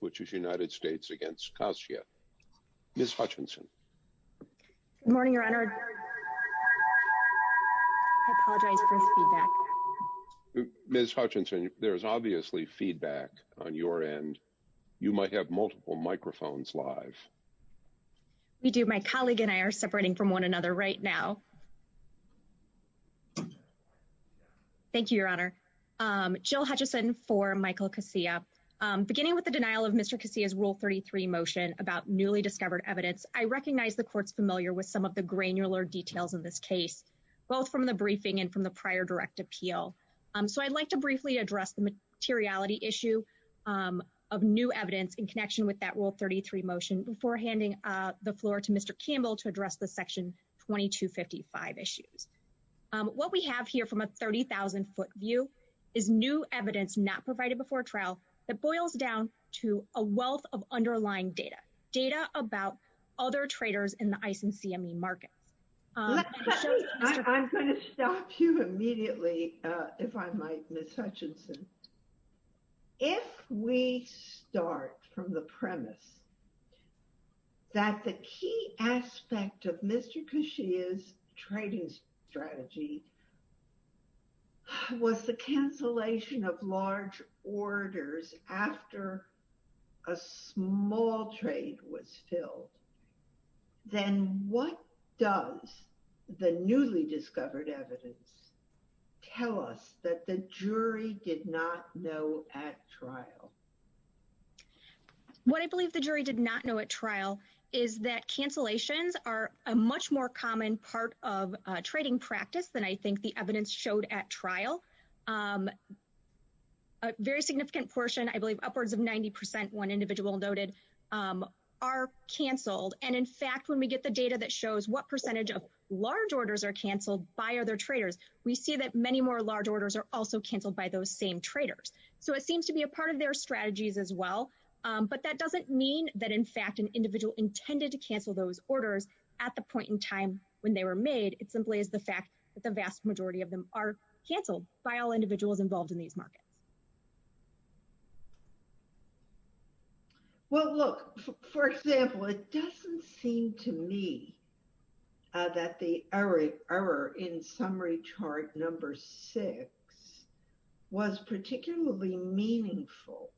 which is United States against Coscia. Ms. Hutchinson. Good morning, your honor. I apologize for feedback. Ms. Hutchinson, there's obviously feedback on your end. You might have multiple microphones live. We do. My colleague and I are separating from one another right now. Thank you, your honor. Jill Hutchinson for Michael Coscia. Beginning with the denial of Mr. Coscia's Rule 33 motion about newly discovered evidence, I recognize the court's familiar with some of the granular details in this case, both from the briefing and from the prior direct appeal. So I'd like to briefly address the materiality issue of new evidence in connection with that Rule 33 motion before handing the floor to Mr. Campbell to address the Section 2255 issues. What we have here from a 30,000-foot view is new evidence not provided before trial that boils down to a wealth of underlying data, data about other traders in the ICE and CME markets. I'm going to stop you immediately, if I might, Ms. Hutchinson. If we start from the premise that the key aspect of Mr. Coscia's trading strategy was the cancellation of large orders after a small trade was filled, then what does the newly discovered evidence tell us that the jury did not know at trial? What I believe the jury did not know at trial is that cancellations are a much more common part of trading practice than I think the evidence showed at trial. A very significant portion, I believe upwards of 90 percent, one individual noted, are canceled. And in fact, when we get the data that shows what percentage of large orders are canceled by other traders, we see that many more large orders are also canceled by those same traders. So it seems to be a part of their strategies as well. But that doesn't mean that, in fact, an individual intended to cancel those simply is the fact that the vast majority of them are canceled by all individuals involved in these markets. Well, look, for example, it doesn't seem to me that the error in summary chart number six was particularly meaningful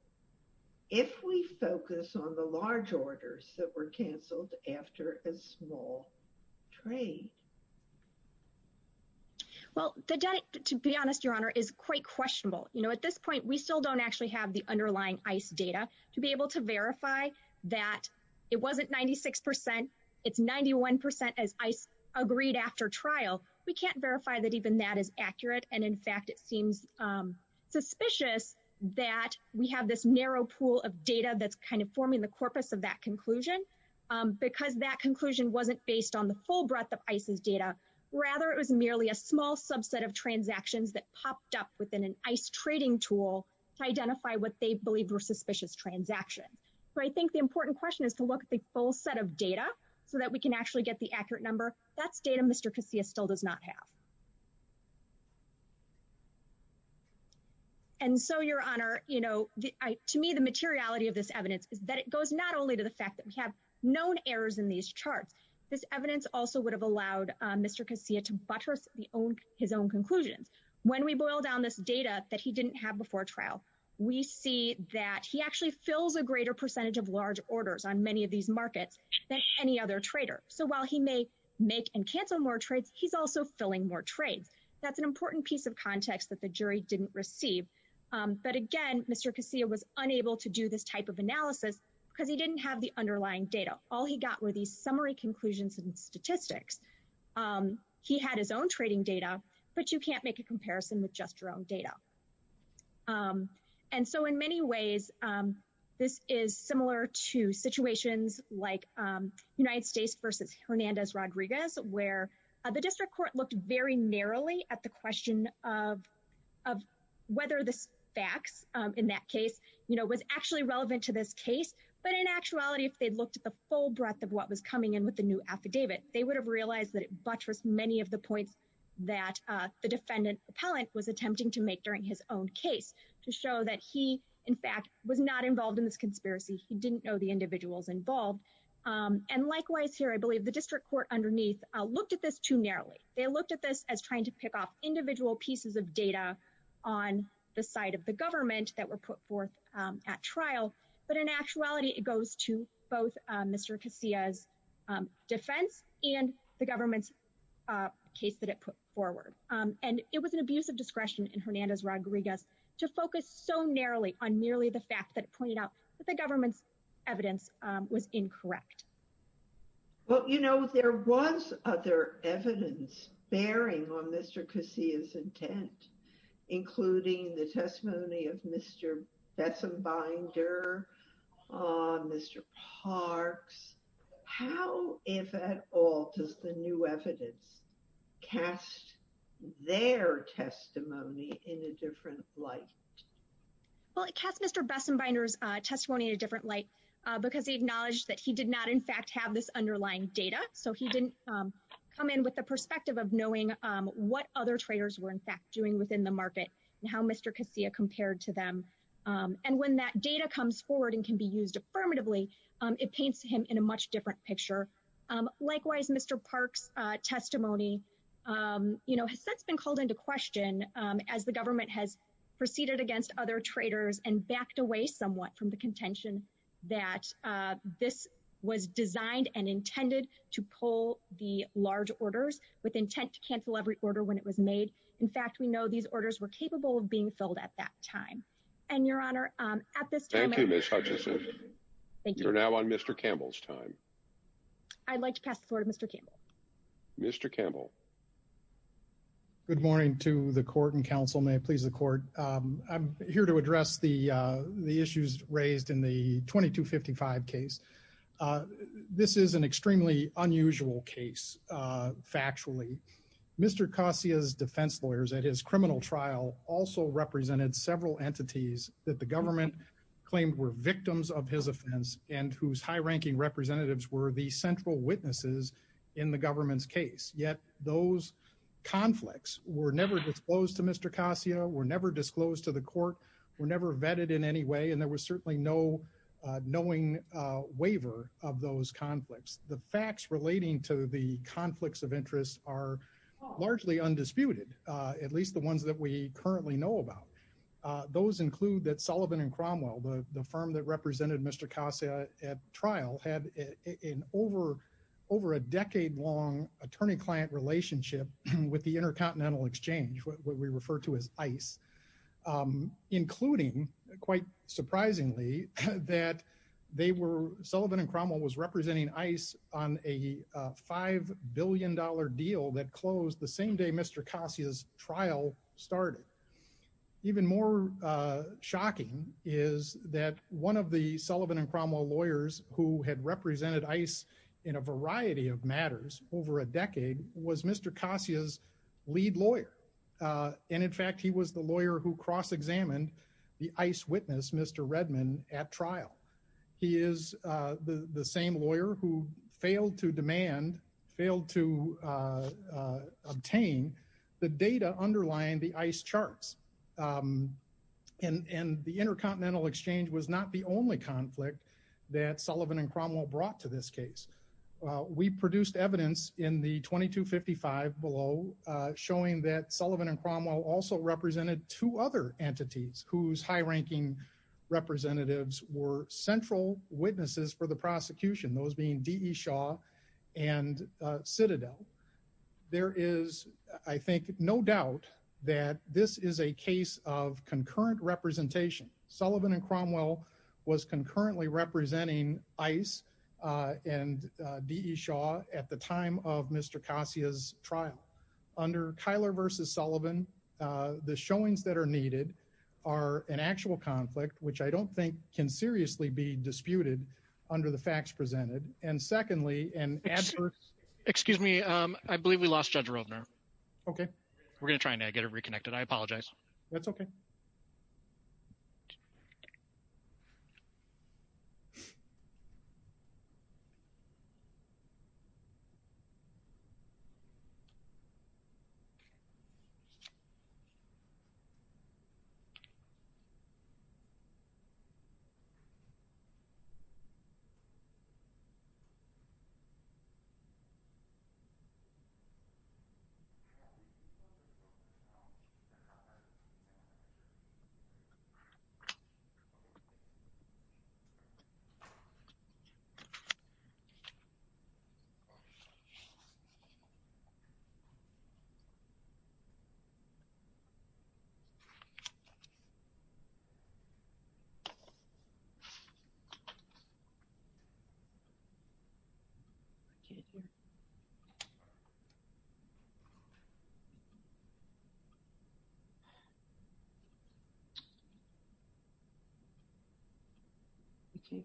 if we focus on the large orders that were canceled after a small trade. Well, to be honest, Your Honor, is quite questionable. You know, at this point, we still don't actually have the underlying ICE data to be able to verify that it wasn't 96 percent. It's 91 percent as ICE agreed after trial. We can't verify that even that is accurate. And in fact, it seems suspicious that we have this narrow pool of data that's forming the corpus of that conclusion because that conclusion wasn't based on the full breadth of ICE's data. Rather, it was merely a small subset of transactions that popped up within an ICE trading tool to identify what they believed were suspicious transactions. So I think the important question is to look at the full set of data so that we can actually get the accurate number. That's data Mr. Casillas still does not have. And so, Your Honor, to me, the materiality of this evidence is that it goes not only to the fact that we have known errors in these charts, this evidence also would have allowed Mr. Casillas to buttress his own conclusions. When we boil down this data that he didn't have before trial, we see that he actually fills a greater percentage of large orders on many of these markets than any other trader. So while he may make and cancel more trades, he's also filling more trades. That's an important piece of context that the jury didn't receive. But again, Mr. Casillas was unable to do this type of analysis because he didn't have the underlying data. All he got were these summary conclusions and statistics. He had his own trading data, but you can't make a comparison with just your own data. And so, in many ways, this is similar to situations like United States versus Hernandez-Rodriguez, where the district court looked very narrowly at the question of whether the facts in that case was actually relevant to this case. But in actuality, if they'd looked at the full breadth of what was coming in with the new affidavit, they would have realized that it buttressed many of the points that the defendant appellant was attempting to make during his own case to show that he, in fact, was not involved in this conspiracy. He didn't know the individuals involved. And likewise here, I believe the district court underneath looked at this too narrowly. They looked at this as trying to pick off individual pieces of data on the side of the government that were put forth at trial. But in actuality, it goes to both Mr. Casillas' defense and the government's case that it put forward. And it was an abuse of discretion in Hernandez-Rodriguez to focus so narrowly on merely the fact that it pointed out that the government's evidence was incorrect. Well, you know, there was other evidence bearing on Mr. Casillas' intent, including the testimony of Mr. Bessembinder, Mr. Parks. How, if at all, does the new evidence cast their testimony in a different light? Well, it cast Mr. Bessembinder's testimony in a different light because he acknowledged that he did not, in fact, have this underlying data. So he didn't come in with the perspective of knowing what other traders were, in fact, doing within the market and how Mr. Casillas compared to them. And when that data comes forward and can be used affirmatively, it paints him in a different light. presentation of the testimony. You know, has that been called into question as the government has proceeded against other traders and backed away somewhat from the contention that this was designed and intended to pull the large orders with intent to cancel every order when it was made? In fact, we know these orders were capable of being filled at that time. And, Your Honor, at this time— Mr. Campbell. Good morning to the court and counsel. May it please the court. I'm here to address the issues raised in the 2255 case. This is an extremely unusual case, factually. Mr. Kossia's defense lawyers at his criminal trial also represented several entities that the government claimed were victims of his offense and whose high-ranking representatives were the central witnesses in the government's case. Yet those conflicts were never disclosed to Mr. Kossia, were never disclosed to the court, were never vetted in any way, and there was certainly no knowing waiver of those conflicts. The facts relating to the conflicts of interest are largely undisputed, at least the ones that we currently know about. Those include that Sullivan and Cromwell, the firm that represented Mr. Kossia at trial, had an over a decade-long attorney-client relationship with the Intercontinental Exchange, what we refer to as ICE, including, quite surprisingly, that they were—Sullivan and Cromwell was representing ICE on a $5 billion deal that closed the same day Mr. Kossia's trial started. Even more shocking is that one of the Sullivan and Cromwell lawyers who had represented ICE in a variety of matters over a decade was Mr. Kossia's lead lawyer, and in fact he was the lawyer who cross-examined the ICE witness, Mr. Redman, at trial. He is the same lawyer who failed to demand, failed to obtain the data underlying the ICE charts, and the Intercontinental Exchange was not the only conflict that Sullivan and Cromwell brought to this case. We produced evidence in the 2255 below showing that Sullivan and Cromwell also represented two other entities whose high-ranking representatives were central witnesses for the and Citadel. There is, I think, no doubt that this is a case of concurrent representation. Sullivan and Cromwell was concurrently representing ICE and D.E. Shaw at the time of Mr. Kossia's trial. Under Kyler v. Sullivan, the showings that are needed are an actual conflict, which I don't think can seriously be disputed under the facts presented. And secondly, and excuse me, I believe we lost Judge Roedner. Okay, we're going to try and get it reconnected. I apologize. That's okay.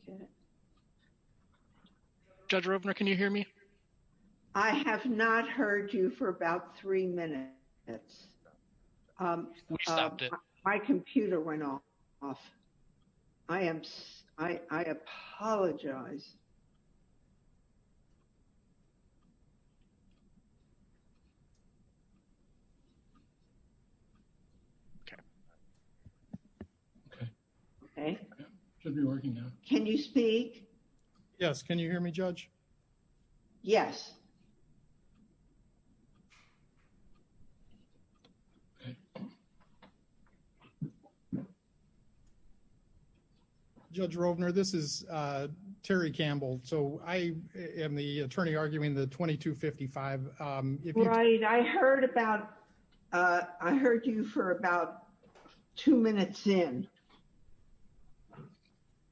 Okay. Judge Roedner, can you hear me? I have not heard you for about three minutes. We stopped it. My computer went off. I apologize. Okay. Okay. Should be working now. Can you speak? Yes. Can you hear me, Judge? Yes. Okay. Judge Roedner, this is Terry Campbell. So I am the attorney arguing the 2255. Right. I heard about, I heard you for about two minutes in.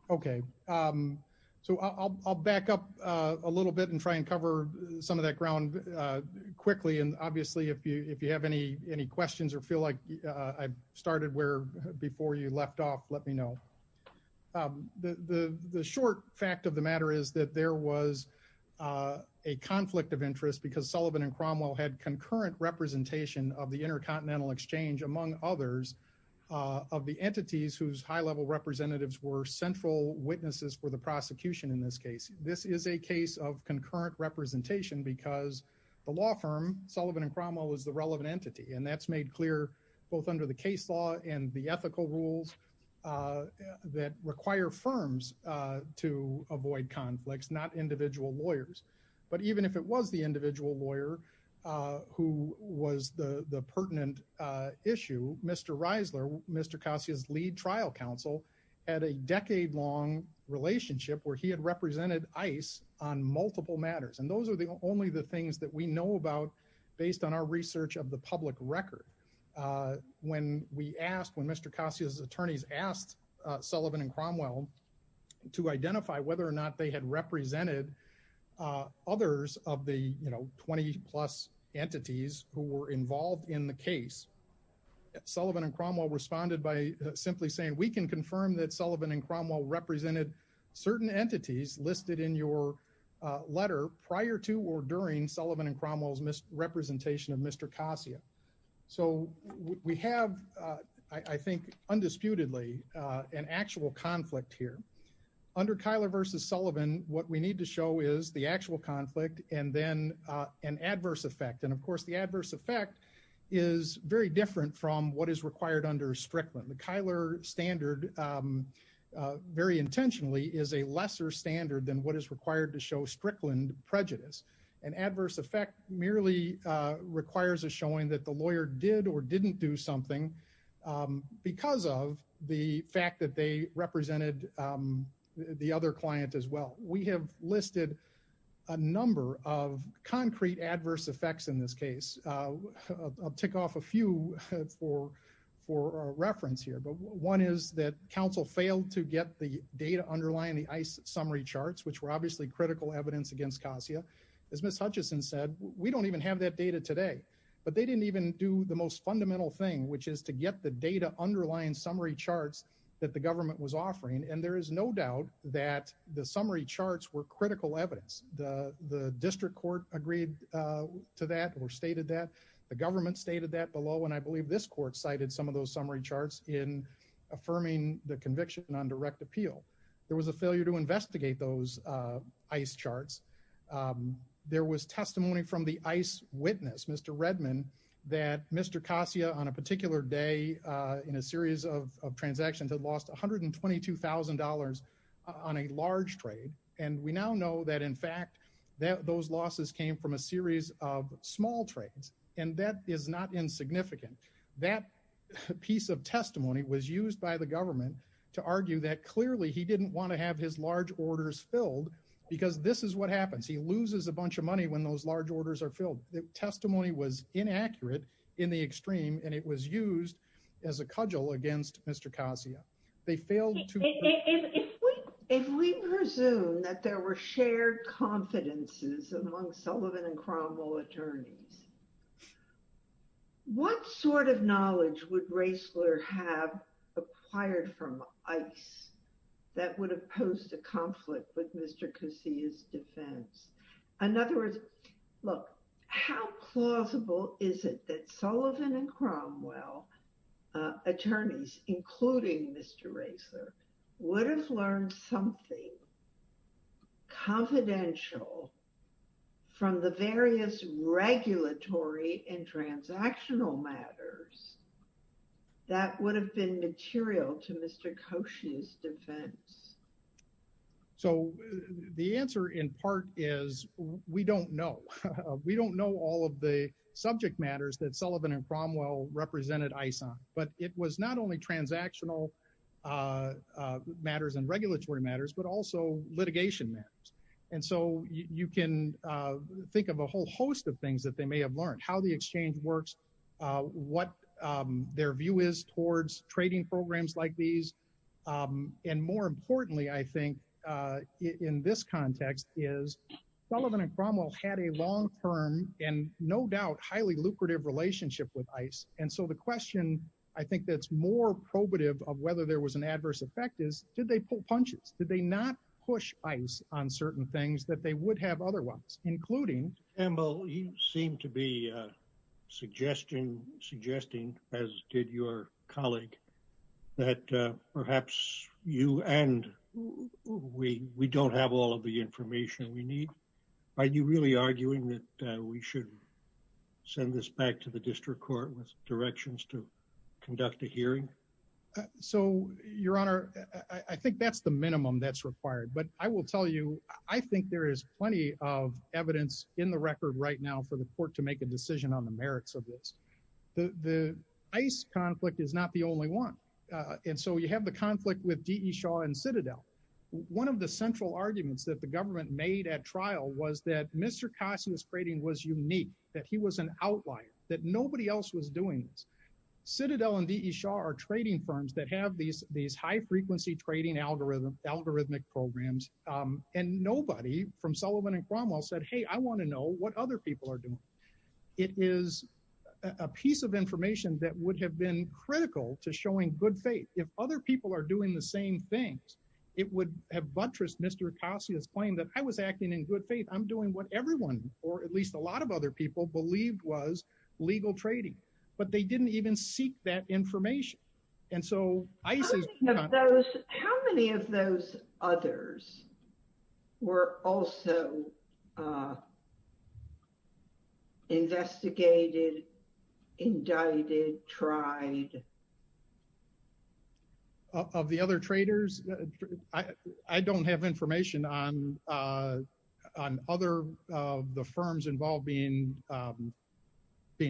Okay. So I'll back up a little bit and try and cover some of that ground quickly. And obviously, if you have any questions or feel like I started where before you left off, let me know. The short fact of the matter is that there was a conflict of interest because Sullivan and Cromwell had concurrent representation of the Intercontinental Exchange, among others, of the entities whose high-level representatives were central witnesses for the prosecution in this case. This is a case of concurrent representation because the law firm, Sullivan and Cromwell, is the relevant entity. And that's made clear both under the case law and the ethical rules that require firms to avoid conflicts, not individual lawyers. But even if it was the individual lawyer who was the pertinent issue, Mr. Reisler, Mr. Kassia's lead trial counsel, had a decade-long relationship where he had represented ICE on multiple matters. And those are the only the things that we know about based on our research of the public record. When we asked, when Mr. Kassia's attorneys asked Sullivan and Cromwell to identify whether or not they had represented others of the, you know, 20-plus entities who were involved in the case, Sullivan and Cromwell responded by simply saying, we can confirm that Sullivan and Cromwell represented certain entities listed in your letter prior to or during Sullivan and Cromwell's misrepresentation of Mr. Kassia. So we have, I think, undisputedly an actual conflict here. Under Kyler versus Sullivan, what we need to show is the actual conflict and then an adverse effect. And of course, the adverse effect is very different from what is required under Strickland. The Kyler standard, very intentionally, is a lesser standard than what is required to show Strickland prejudice. An adverse effect merely requires a showing that the lawyer did or didn't do something because of the fact that they represented the other client as well. We have listed a number of concrete adverse effects in this case. I'll tick off a few for reference here. But one is that council failed to get the data underlying the ICE summary charts, which were obviously critical evidence against Kassia. As Ms. Hutchison said, we don't even have that data today. But they didn't even do the most fundamental thing, which is to get the data underlying summary charts that the government was offering. And there is no doubt that the summary charts were critical evidence. The district court agreed to that or stated that. The government stated that below. And I believe this court cited some of those summary charts in affirming the conviction on direct appeal. There was a failure to investigate those ICE charts. There was testimony from the ICE witness, Mr. Redman, that Mr. Kassia, on a particular day in a series of transactions, had lost $122,000 on a large trade. And we now know that, in fact, that those losses came from a series of small trades. And that is not insignificant. That piece of testimony was used by the government to argue that clearly he didn't want to have his large orders filled because this is what happens. He loses a bunch of money when those large orders are filled. The testimony was inaccurate in the extreme, and it was used as a cudgel against Mr. Kassia. They failed to... If we presume that there were shared confidences among Sullivan and Cromwell attorneys, what sort of knowledge would Raessler have acquired from ICE that would have posed a conflict with Mr. Kassia's defense? In other words, look, how plausible is it that Sullivan and Cromwell attorneys, including Mr. Raessler, would have learned something confidential from the various regulatory and transactional matters that would have been material to Mr. Kassia's defense? So the answer, in part, is we don't know. We don't know all of the subject matters that Sullivan and Cromwell represented ICE on. But it was not only transactional matters and regulatory matters, but also litigation matters. And so you can think of a whole host of things that they may have learned from their trade works, what their view is towards trading programs like these. And more importantly, I think, in this context is Sullivan and Cromwell had a long-term and no doubt highly lucrative relationship with ICE. And so the question, I think, that's more probative of whether there was an adverse effect is, did they pull punches? Did they not push ICE on certain things that they would have otherwise? Including... Campbell, you seem to be suggesting, as did your colleague, that perhaps you and we don't have all of the information we need. Are you really arguing that we should send this back to the district court with directions to conduct a hearing? So your honor, I think that's the minimum that's required. But I will tell you, I think there is plenty of evidence in the record right now for the court to make a decision on the merits of this. The ICE conflict is not the only one. And so you have the conflict with D.E. Shaw and Citadel. One of the central arguments that the government made at trial was that Mr. Cassius trading was unique, that he was an outlier, that nobody else was doing this. Citadel and D.E. Shaw are trading firms that have these high-frequency trading algorithmic programs. And nobody from Sullivan and Cromwell said, hey, I want to know what other people are doing. It is a piece of information that would have been critical to showing good faith. If other people are doing the same things, it would have buttressed Mr. Cassius' claim that I was acting in good faith. I'm doing what everyone, or at least a lot of other people, believed was information. How many of those others were also investigated, indicted, tried? Of the other traders? I don't have information on other of the firms involved being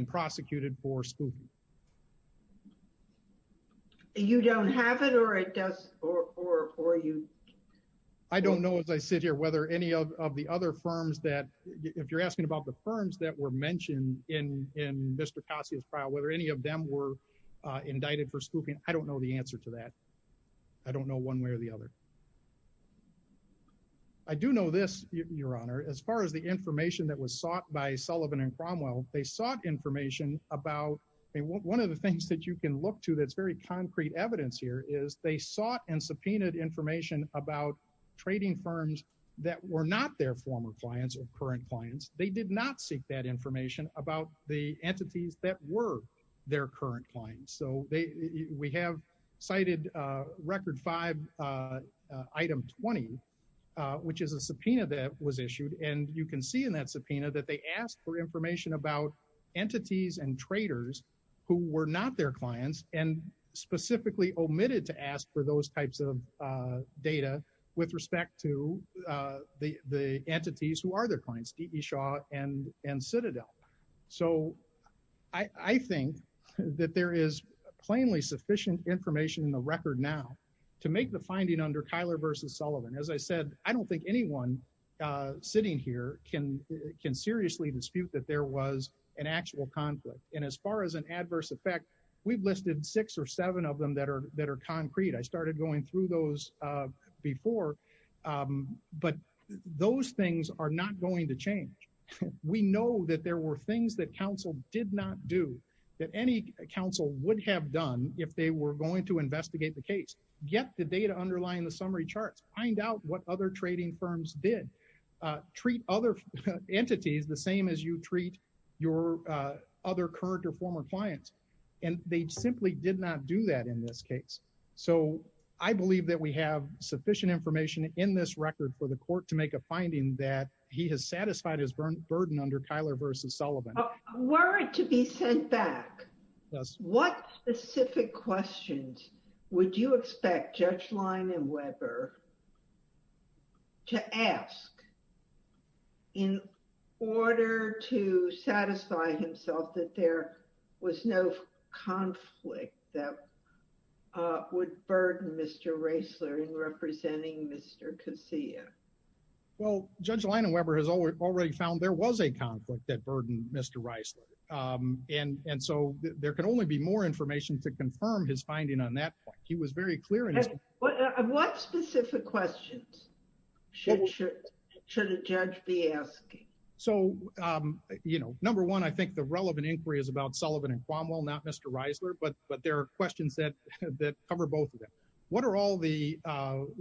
prosecuted for spooking. You don't have it, or it does, or you? I don't know as I sit here whether any of the other firms that, if you're asking about the firms that were mentioned in Mr. Cassius' trial, whether any of them were indicted for spooking, I don't know the answer to that. I don't know one way or the other. I do know this, Your Honor, as far as the about. One of the things that you can look to that's very concrete evidence here is they sought and subpoenaed information about trading firms that were not their former clients or current clients. They did not seek that information about the entities that were their current clients. We have cited Record 5, Item 20, which is a subpoena that was issued. You can see in that and traders who were not their clients and specifically omitted to ask for those types of data with respect to the entities who are their clients, D.E. Shaw and Citadel. I think that there is plainly sufficient information in the record now to make the finding under Kyler v. Sullivan. As I said, I don't think anyone sitting here can seriously dispute that there was an actual conflict. As far as an adverse effect, we've listed six or seven of them that are concrete. I started going through those before, but those things are not going to change. We know that there were things that counsel did not do that any counsel would have done if they were going to investigate the case. Get the data underlying the summary charts. Find out what other trading firms did. Treat other entities the same as you treat your other current or former clients. They simply did not do that in this case. I believe that we have sufficient information in this record for the court to make a finding that he has satisfied his burden under Kyler v. Sullivan. A word to be sent back. What specific questions would you expect Judge Leinan Weber to ask in order to satisfy himself that there was no conflict that would burden Mr. Reisler in representing Mr. Kezia? Judge Leinan Weber has already found there was a conflict that burdened Mr. Reisler. And so there can only be more information to confirm his finding on that point. He was very clear. What specific questions should a judge be asking? Number one, I think the relevant inquiry is about Sullivan and Cromwell, not Mr. Reisler, but there are questions that cover both of them. What are all the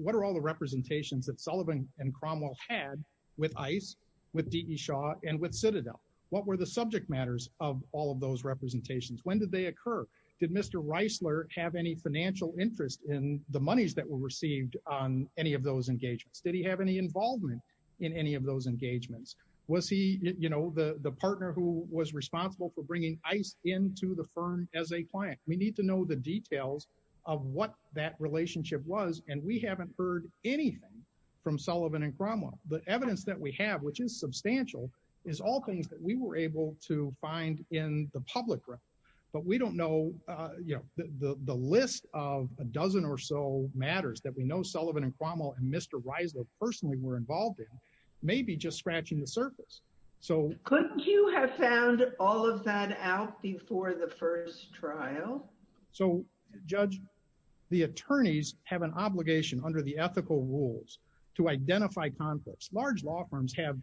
representations that Sullivan and Cromwell had with ICE, with D.E. Shaw, and with Citadel? What were the subject matters of all of those representations? When did they occur? Did Mr. Reisler have any financial interest in the monies that were received on any of those engagements? Did he have any involvement in any of those engagements? Was he the partner who was responsible for bringing ICE into the firm as a client? We need to know the details of what that relationship was, and we haven't heard anything from Sullivan and Cromwell. The evidence that we have, which is substantial, is all things that we were able to find in the public realm, but we don't know. The list of a dozen or so matters that we know Sullivan and Cromwell and Mr. Reisler personally were involved in may be just scratching the surface. Couldn't you have found all of that out before the first trial? So, Judge, the attorneys have an obligation under the ethical rules to identify conflicts. Large law firms have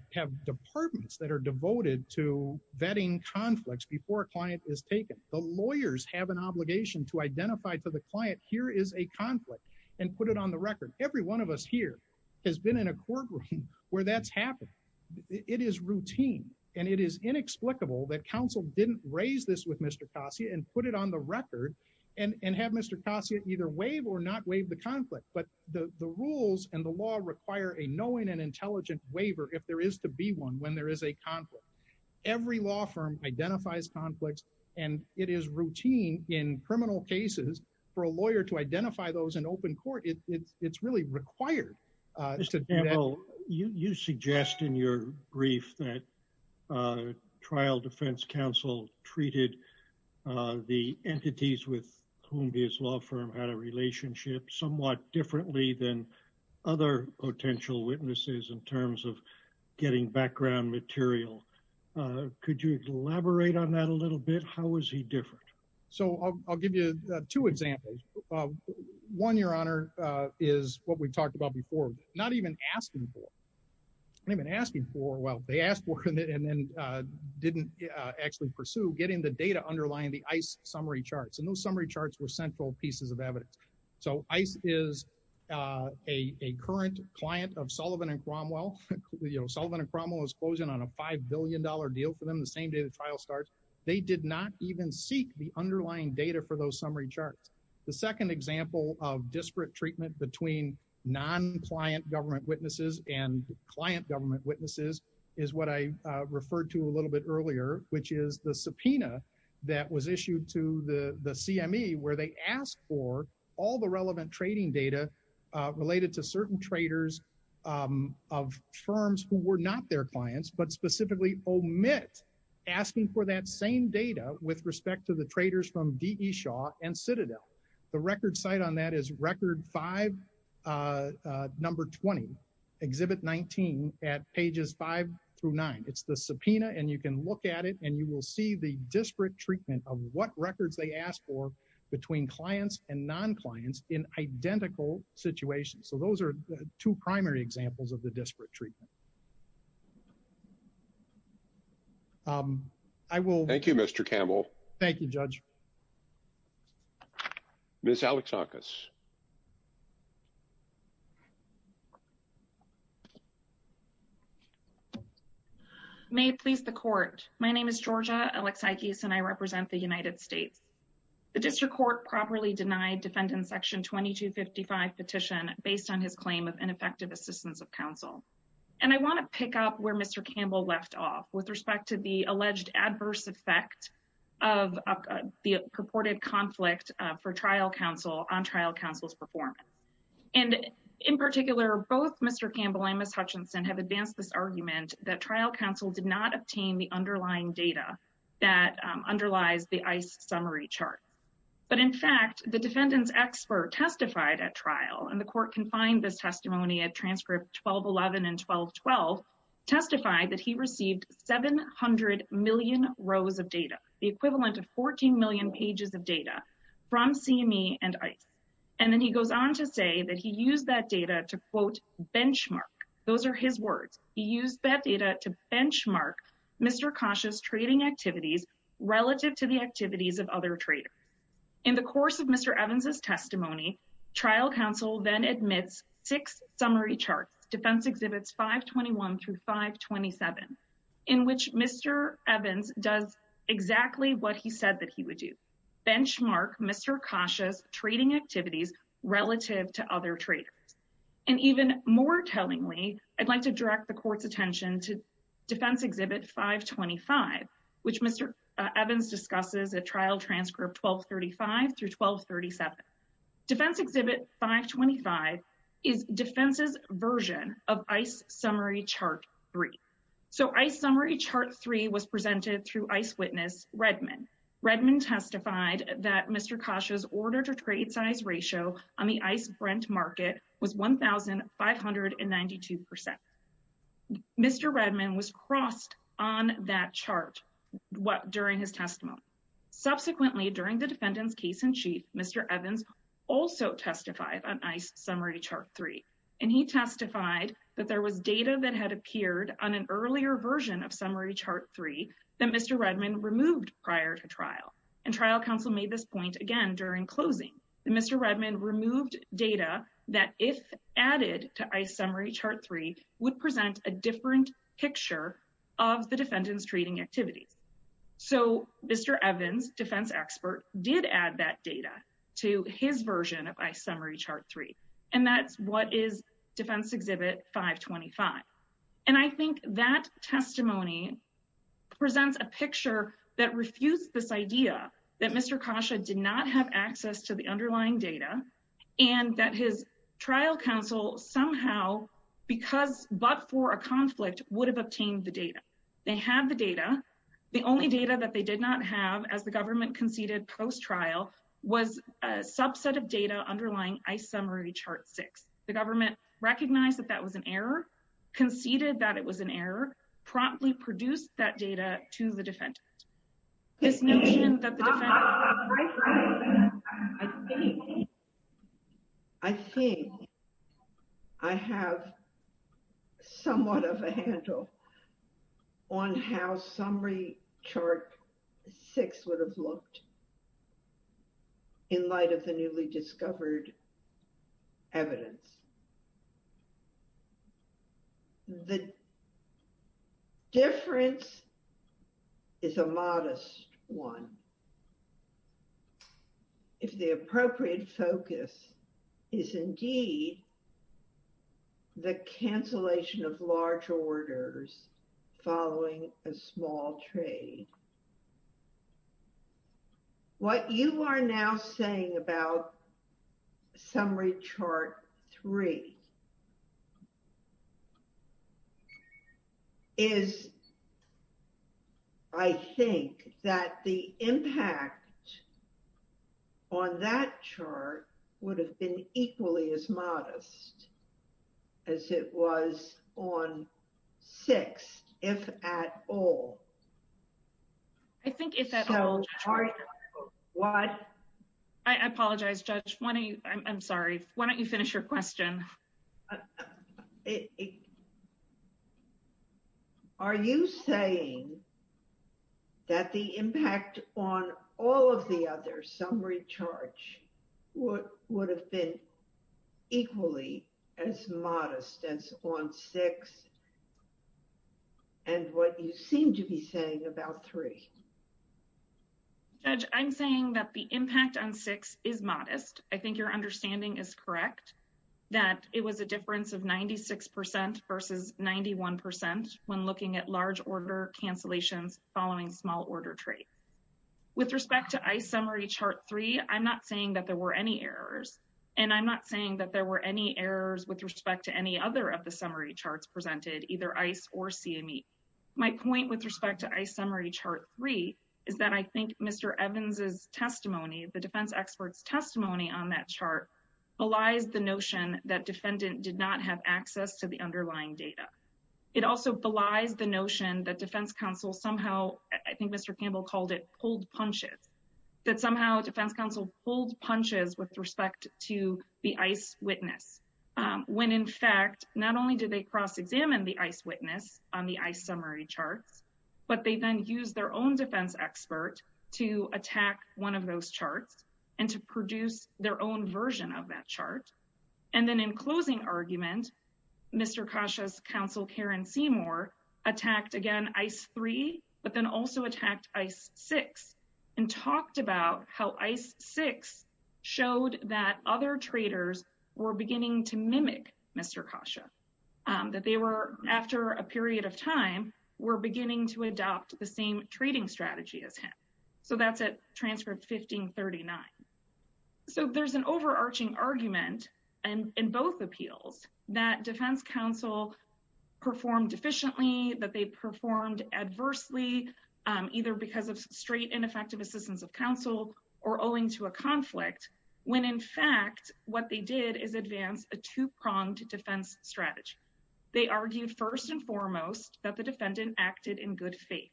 departments that are devoted to vetting conflicts before a client is taken. The lawyers have an obligation to identify to the client, here is a conflict, and put it on the record. Every one of us here has been in a courtroom where that's happened. It is routine, and it is inexplicable that counsel didn't raise this with Mr. Cassia and put it on the record and have Mr. Cassia either waive or not waive the conflict, but the rules and the law require a knowing and intelligent waiver if there is to be one when there is a conflict. Every law firm identifies conflicts, and it is routine in criminal cases for a lawyer to identify those in open court. It's really required. Mr. Campbell, you suggest in your brief that trial defense counsel treated the entities with whom his law firm had a relationship somewhat differently than other potential witnesses in terms of getting background material. Could you elaborate on that a little bit? How was he different? So, I'll give you two examples. One, Your Honor, is what we've talked about before, not even asking for. Not even asking for, well, they asked for it and then didn't actually pursue getting the data underlying the ICE summary charts, and those summary charts were central pieces of evidence. So, ICE is a current client of Sullivan and Cromwell. Sullivan and Cromwell is closing on a $5 billion deal for them the same day the trial starts. They did not even seek the underlying data for those summary charts. The second example of disparate treatment between non-client government witnesses and client government witnesses is what I referred to a little bit earlier, which is the subpoena that was issued to the CME, where they asked for all the relevant trading data related to certain traders of firms who were not their clients, but specifically omit asking for that same data with respect to the traders from D.E. Shaw and Citadel. The record site on that is record 5, number 20, Exhibit 19 at pages 5 through 9. It's the subpoena and you can look at it and you will see the disparate treatment of what records they asked for between clients and non-clients in identical situations. So, those are the two primary examples of the disparate treatment. Thank you, Mr. Campbell. Thank you, Judge. Ms. Alexakis. May it please the court. My name is Georgia Alexakis and I represent the United States. The district court properly denied defendant section 2255 petition based on his claim of ineffective assistance of counsel. And I want to pick up where Mr. Campbell left off with respect to the alleged adverse effect of the purported conflict for trial counsel on trial day. Counsel's performance. And in particular, both Mr. Campbell and Ms. Hutchinson have advanced this argument that trial counsel did not obtain the underlying data that underlies the ICE summary chart. But in fact, the defendant's expert testified at trial and the court confined this testimony at transcript 1211 and 1212, testified that he received 700 million rows of data, the equivalent of 14 million pages of data from CME and ICE. And then he goes on to say that he used that data to quote benchmark. Those are his words. He used that data to benchmark Mr. Kasha's trading activities relative to the activities of other traders. In the course of Mr. Evans' testimony, trial counsel then admits six summary charts, defense exhibits 521 through 527, in which Mr. Evans does exactly what he said that he would do, benchmark Mr. Kasha's trading activities relative to other traders. And even more tellingly, I'd like to direct the court's attention to defense exhibit 525, which Mr. Evans discusses at trial transcript 1235 through 1237. Defense exhibit 525 is defense's version of ICE summary chart 3. So ICE summary chart 3 was presented through ICE witness Redmond. Redmond testified that Mr. Kasha's order to trade size ratio on the ICE Brent market was 1,592%. Mr. Redmond was crossed on that chart during his also testified on ICE summary chart 3. And he testified that there was data that had appeared on an earlier version of summary chart 3 that Mr. Redmond removed prior to trial. And trial counsel made this point again during closing. Mr. Redmond removed data that if added to ICE summary chart 3 would present a different picture of the defendant's trading activities. So Mr. Evans, defense expert, did add that data to his version of ICE summary chart 3. And that's what is defense exhibit 525. And I think that testimony presents a picture that refused this idea that Mr. Kasha did not have access to the underlying data and that his trial counsel somehow because but for a conflict would have obtained the data. They have the data. The only data that they did not have as the government conceded post-trial was a subset of data underlying ICE summary chart 6. The government recognized that that was an error, conceded that it was an error, promptly produced that data to the defendant. This notion that the defendant. I think I have somewhat of a handle on how summary chart 6 would have looked in light of the newly discovered evidence. The difference is a modest one. If the appropriate focus is indeed the cancellation of large orders following a small trade. And what you are now saying about summary chart 3 is I think that the impact on that chart would have been equally as modest as it was on 6, if at all. I think if at all. I apologize, Judge. I'm sorry. Why don't you finish your question? Are you saying that the impact on all of the other summary charts would have been equally as modest as on 6 and what you seem to be saying about 3? Judge, I'm saying that the impact on 6 is modest. I think your understanding is correct that it was a difference of 96% versus 91% when looking at large order cancellations following small order trade. With respect to ICE summary chart 3, I'm not saying that there were any errors and I'm not saying that there were any errors with respect to any other of the summary charts presented, either ICE or CME. My point with respect to ICE summary chart 3 is that I think Mr. Evans' testimony, the defense expert's testimony on that chart, belies the notion that defendant did not have access to the underlying data. It also belies the notion that defense counsel somehow, I think Mr. Campbell called it pulled punches, that somehow defense counsel pulled punches with respect to the ICE witness when, in fact, not only did they cross-examine the ICE witness on the ICE summary charts, but they then used their own defense expert to attack one of those charts and to produce their own version of that chart. And then in closing argument, Mr. Kasha's counsel, Karen Seymour, attacked again ICE 3, but then also attacked ICE 6 and talked about how ICE 6 showed that other traders were beginning to mimic Mr. Kasha, that they were, after a period of time, were beginning to adopt the same trading strategy as him. So that's at transcript 1539. So there's an overarching argument in both appeals that defense counsel performed efficiently, that they performed adversely, either because of straight and effective assistance of counsel or owing to a conflict, when, in fact, what they did is advance a two-pronged defense strategy. They argued first and foremost that the defendant acted in good faith,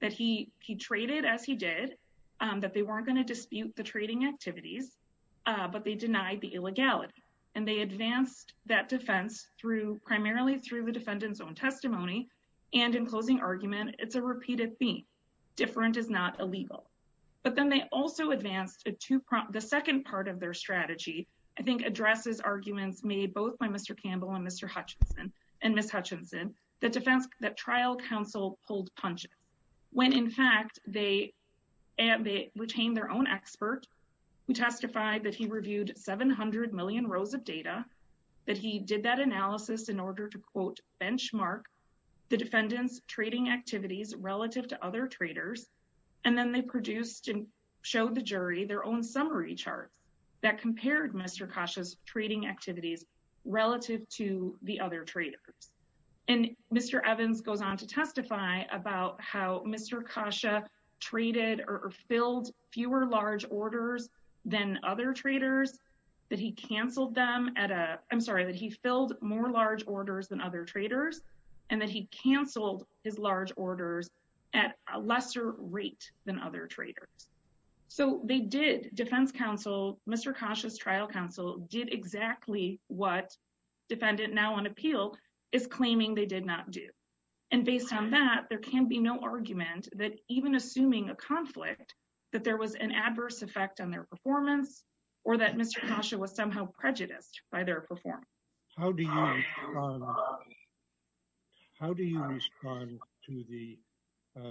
that he traded as he did, that they weren't going to dispute the trading activities, but they denied the illegality. And they advanced that it's a repeated theme. Different is not illegal. But then they also advanced a two-pronged, the second part of their strategy, I think, addresses arguments made both by Mr. Campbell and Ms. Hutchinson that trial counsel pulled punches, when, in fact, they retained their own expert who testified that he reviewed 700 million rows of data, that he did that analysis in order to, quote, benchmark the defendant's trading activities relative to other traders. And then they produced and showed the jury their own summary charts that compared Mr. Kasha's trading activities relative to the other traders. And Mr. Evans goes on to testify about how Mr. Kasha traded or filled fewer large orders than other traders, that he canceled them at a, I'm sorry, that he filled more large orders than other traders, and that he canceled his large orders at a lesser rate than other traders. So they did, defense counsel, Mr. Kasha's trial counsel did exactly what defendant now on appeal is claiming they did not do. And based on that, there can be no argument that even assuming a conflict, that there was an adverse effect on their performance, or that Mr. Kasha was somehow prejudiced by their performance. How do you respond to the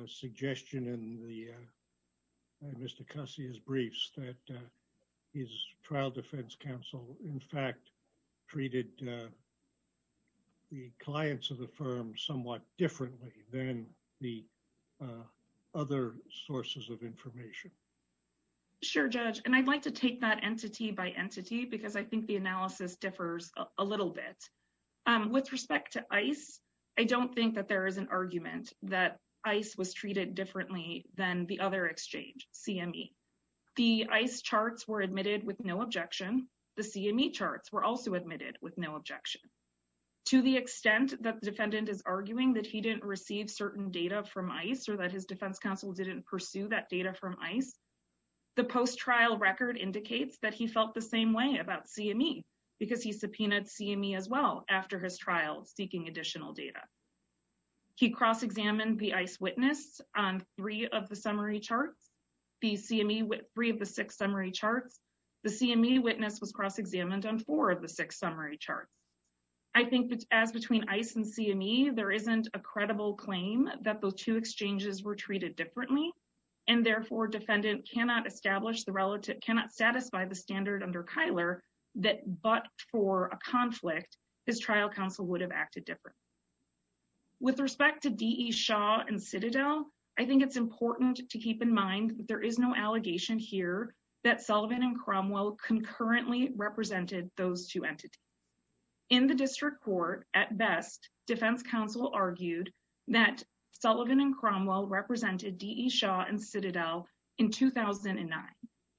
suggestion in Mr. Kasha's briefs that his trial defense counsel, in fact, treated the clients of the firm somewhat differently than the other sources of information? Sure, Judge. And I'd like to take that entity by entity because I think the analysis differs a little bit. With respect to ICE, I don't think that there is an argument that ICE was treated differently than the other exchange, CME. The ICE charts were admitted with no objection. The CME charts were also admitted with no objection. To the extent that the defendant is arguing that he didn't receive certain data from ICE or that his defense counsel didn't pursue that data from ICE, the post-trial record indicates that he felt the same way about CME because he subpoenaed CME as well after his trial seeking additional data. He cross-examined the ICE witness on three of the summary charts, the CME with three of the six summary charts. The CME witness was cross-examined on four of the six summary charts. I think as between ICE and CME, there isn't a credible claim that those two exchanges were and therefore defendant cannot establish the relative, cannot satisfy the standard under Kyler that but for a conflict, his trial counsel would have acted different. With respect to DE Shaw and Citadel, I think it's important to keep in mind that there is no allegation here that Sullivan and Cromwell concurrently represented those two entities. In the district court, at best, defense counsel argued that Sullivan and Cromwell represented DE and Citadel in 2009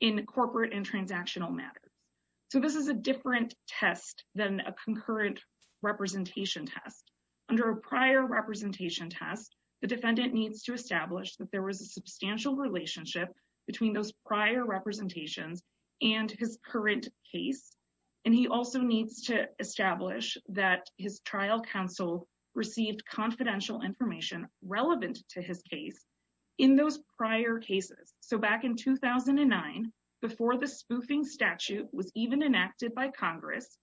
in corporate and transactional matters. So this is a different test than a concurrent representation test. Under a prior representation test, the defendant needs to establish that there was a substantial relationship between those prior representations and his current case. And he also needs to establish that his trial counsel received confidential information relevant to his case in those prior cases. So back in 2009, before the spoofing statute was even enacted by Congress,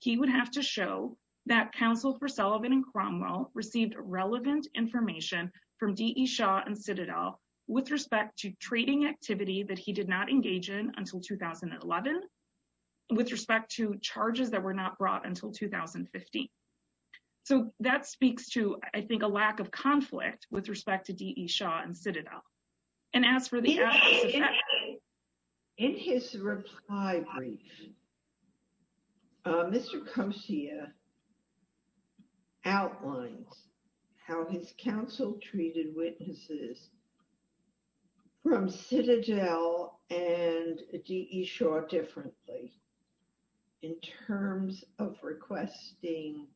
he would have to show that counsel for Sullivan and Cromwell received relevant information from DE Shaw and Citadel with respect to trading activity that he did not engage in until 2011, with respect to charges that were not brought until 2015. So that speaks to, I think, a lack of conflict with respect to DE Shaw and Citadel. And as for the- In his reply brief, Mr. Kosia outlines how his counsel treated witnesses from Citadel and DE Shaw differently in terms of requesting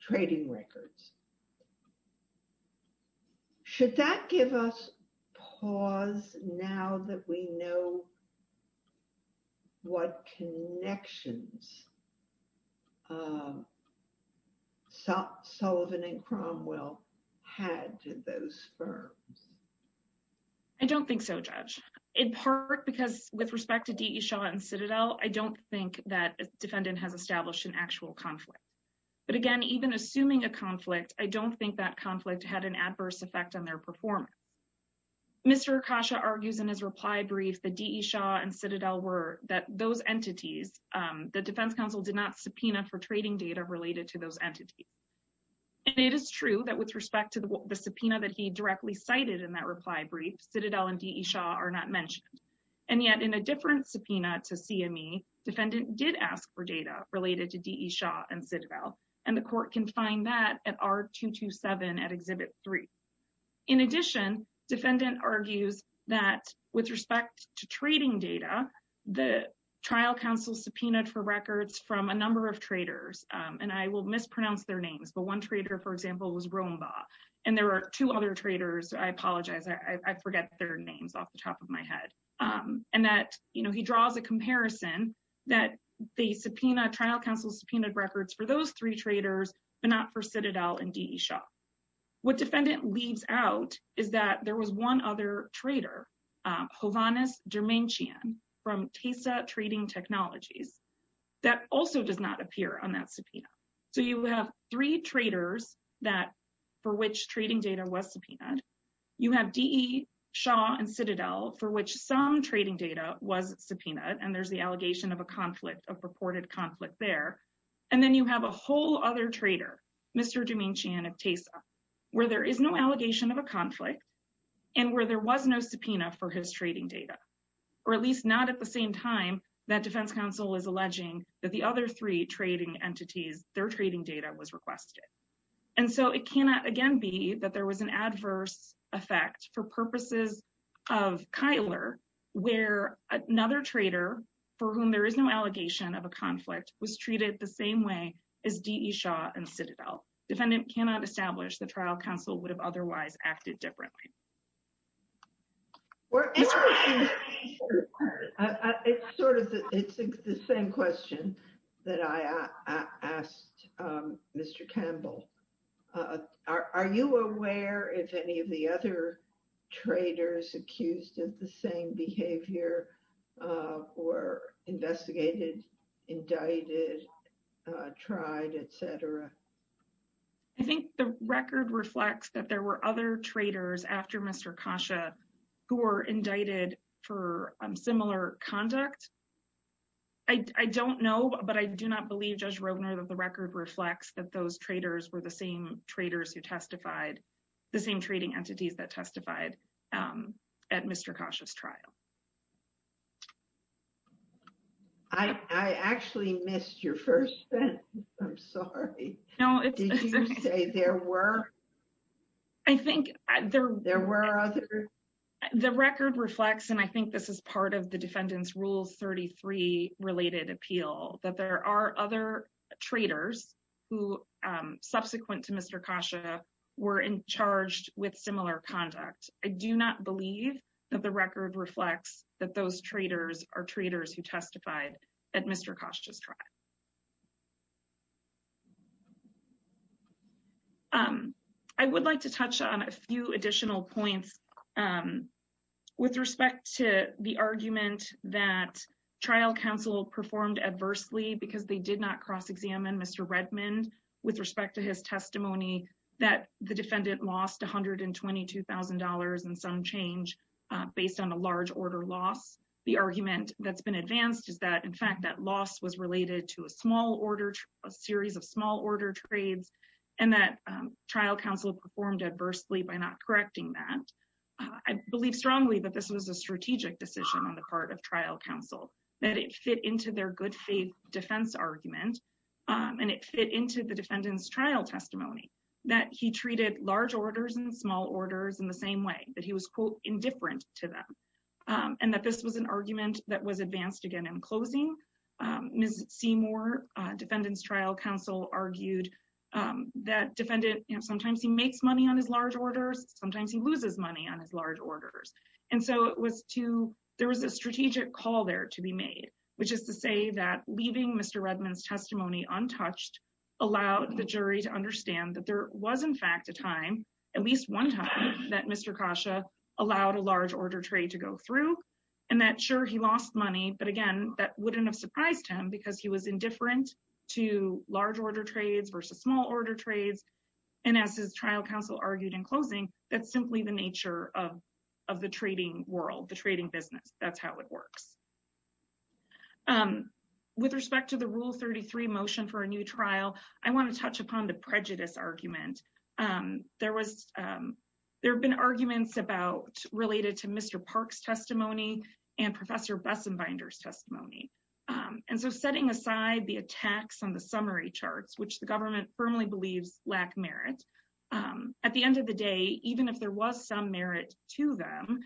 trading records. Should that give us pause now that we know what connections Sullivan and Cromwell had to those firms? I don't think so, Judge. In part because with respect to DE Shaw and Citadel, I don't think that a defendant has established an actual conflict. But again, even assuming a conflict, I don't think that conflict had an adverse effect on their performance. Mr. Kosia argues in his reply brief that DE Shaw and Citadel were- that those entities, the defense counsel did not subpoena for trading data related to those entities. And it is true that with respect to the subpoena that he directly cited in that reply brief, Citadel and DE Shaw are not mentioned. And yet in a different subpoena to CME, defendant did ask for data related to DE Shaw and Citadel. And the court can find that at R227 at Exhibit 3. In addition, defendant argues that with respect to trading data, the trial counsel subpoenaed for records from a number of traders. And I will mispronounce their names, but one trader, for example, was Roomba. And there are two other traders, I apologize, I forget their names off the top of my head. And that, you know, he draws a comparison that the subpoena trial counsel subpoenaed records for those three traders, but not for Citadel and DE Shaw. What defendant leaves out is that there was one other trader, Hovhannes Dermenchian from TESA Trading Technologies, that also does not appear on that subpoena. So, you have three traders that for which trading data was subpoenaed. You have DE Shaw and Citadel for which some trading data was subpoenaed, and there's the allegation of a conflict, a purported conflict there. And then you have a whole other trader, Mr. Dermenchian of TESA, where there is no allegation of a conflict and where there was no subpoena for his trading data, or at least not at the same time that defense counsel is alleging that the other three trading entities, their trading data was requested. And so, it cannot again be that there was an adverse effect for purposes of Kyler, where another trader for whom there is no allegation of a conflict was treated the same way as DE Shaw and Citadel. Defendant cannot establish the trial counsel would have otherwise acted differently. It's the same question that I asked Mr. Campbell. Are you aware if any of the other traders accused of the same behavior were investigated, indicted, tried, et cetera? I think the record reflects that there were other traders after Mr. Kasha who were indicted for similar conduct. I don't know, but I do not believe, Judge Rovner, that the record reflects that those traders were the same traders who testified, the same trading entities that testified at Mr. Kasha's trial. I actually missed your first sentence. I'm sorry. Did you say there were? I think there were others. The record reflects, and I think this is part of the Defendant's Rules 33-related appeal, that there are other traders who, subsequent to Mr. Kasha, were in charge with similar conduct. I do not believe that the record reflects that those traders are traders who testified at Mr. Kasha's trial. I would like to touch on a few additional points with respect to the argument that trial counsel performed adversely because they did not cross examine Mr. Redmond with respect to his testimony that the Defendant lost $122,000 in some change based on a large order loss. The argument that's been advanced is that, in fact, that loss was related to a small order, a series of small order trades, and that trial counsel performed adversely by not correcting that. I believe strongly that this was a strategic decision on the part of trial counsel, that it fit into their good faith defense argument, and it fit into the Defendant's trial testimony, that he treated large orders and small orders in the same way, that he was, quote, indifferent to them, and that this was an argument that was advanced again in closing. Ms. Seymour, Defendant's trial counsel, argued that Defendant, you know, sometimes he loses money on his large orders, and so it was to, there was a strategic call there to be made, which is to say that leaving Mr. Redmond's testimony untouched allowed the jury to understand that there was, in fact, a time, at least one time, that Mr. Kasha allowed a large order trade to go through, and that, sure, he lost money, but again, that wouldn't have surprised him because he was that's simply the nature of the trading world, the trading business. That's how it works. With respect to the Rule 33 motion for a new trial, I want to touch upon the prejudice argument. There was, there have been arguments about, related to Mr. Park's testimony and Professor Bessenbinder's testimony, and so setting aside the attacks on the summary charts, which the even if there was some merit to them,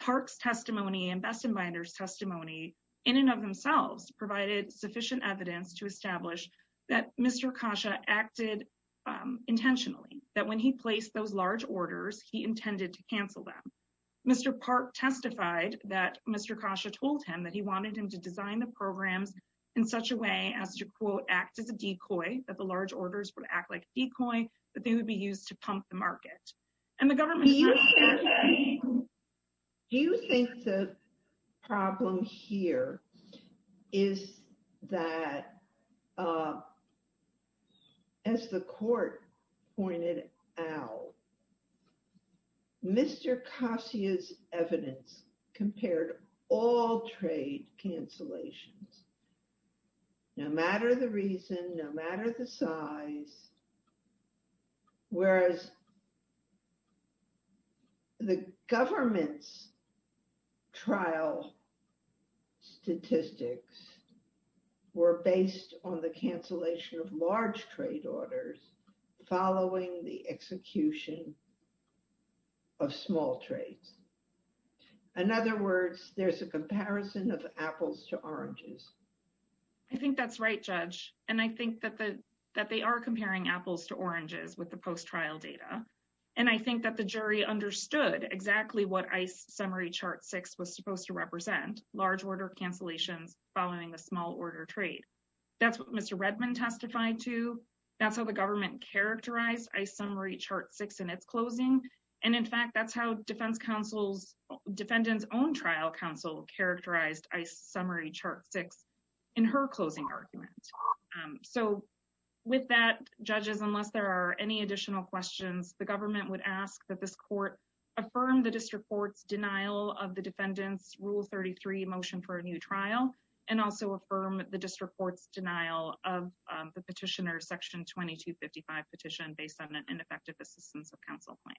Park's testimony and Bessenbinder's testimony, in and of themselves, provided sufficient evidence to establish that Mr. Kasha acted intentionally, that when he placed those large orders, he intended to cancel them. Mr. Park testified that Mr. Kasha told him that he wanted him to design the programs in such a way as to, quote, act as a decoy, that the large orders would act like a decoy, that they would be used to pump the market, and the government. Do you think the problem here is that, as the court pointed out, Mr. Kasha's evidence compared all trade cancellations, no matter the reason, no matter the size, whereas the government's trial statistics were based on the cancellation of large trade orders following the execution of small trades? In other words, there's a that they are comparing apples to oranges with the post-trial data, and I think that the jury understood exactly what ICE Summary Chart 6 was supposed to represent, large order cancellations following the small order trade. That's what Mr. Redman testified to, that's how the government characterized ICE Summary Chart 6 in its closing, and in fact, that's how Defendant's own trial counsel characterized ICE Summary Chart 6 in her closing argument. So with that, judges, unless there are any additional questions, the government would ask that this court affirm the district court's denial of the defendant's Rule 33 motion for a new trial, and also affirm the district court's denial of the petitioner's Section 2255 petition based on an ineffective assistance of the district court.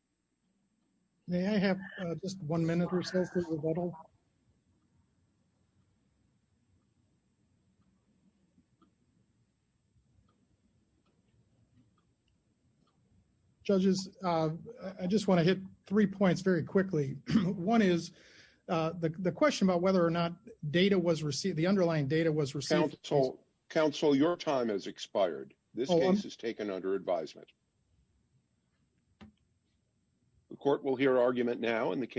Judges, I just want to hit three points very quickly. One is the question about whether or not the underlying data was received. Counsel, your time has expired. This case is taken under advisement. The court will hear argument now in the case.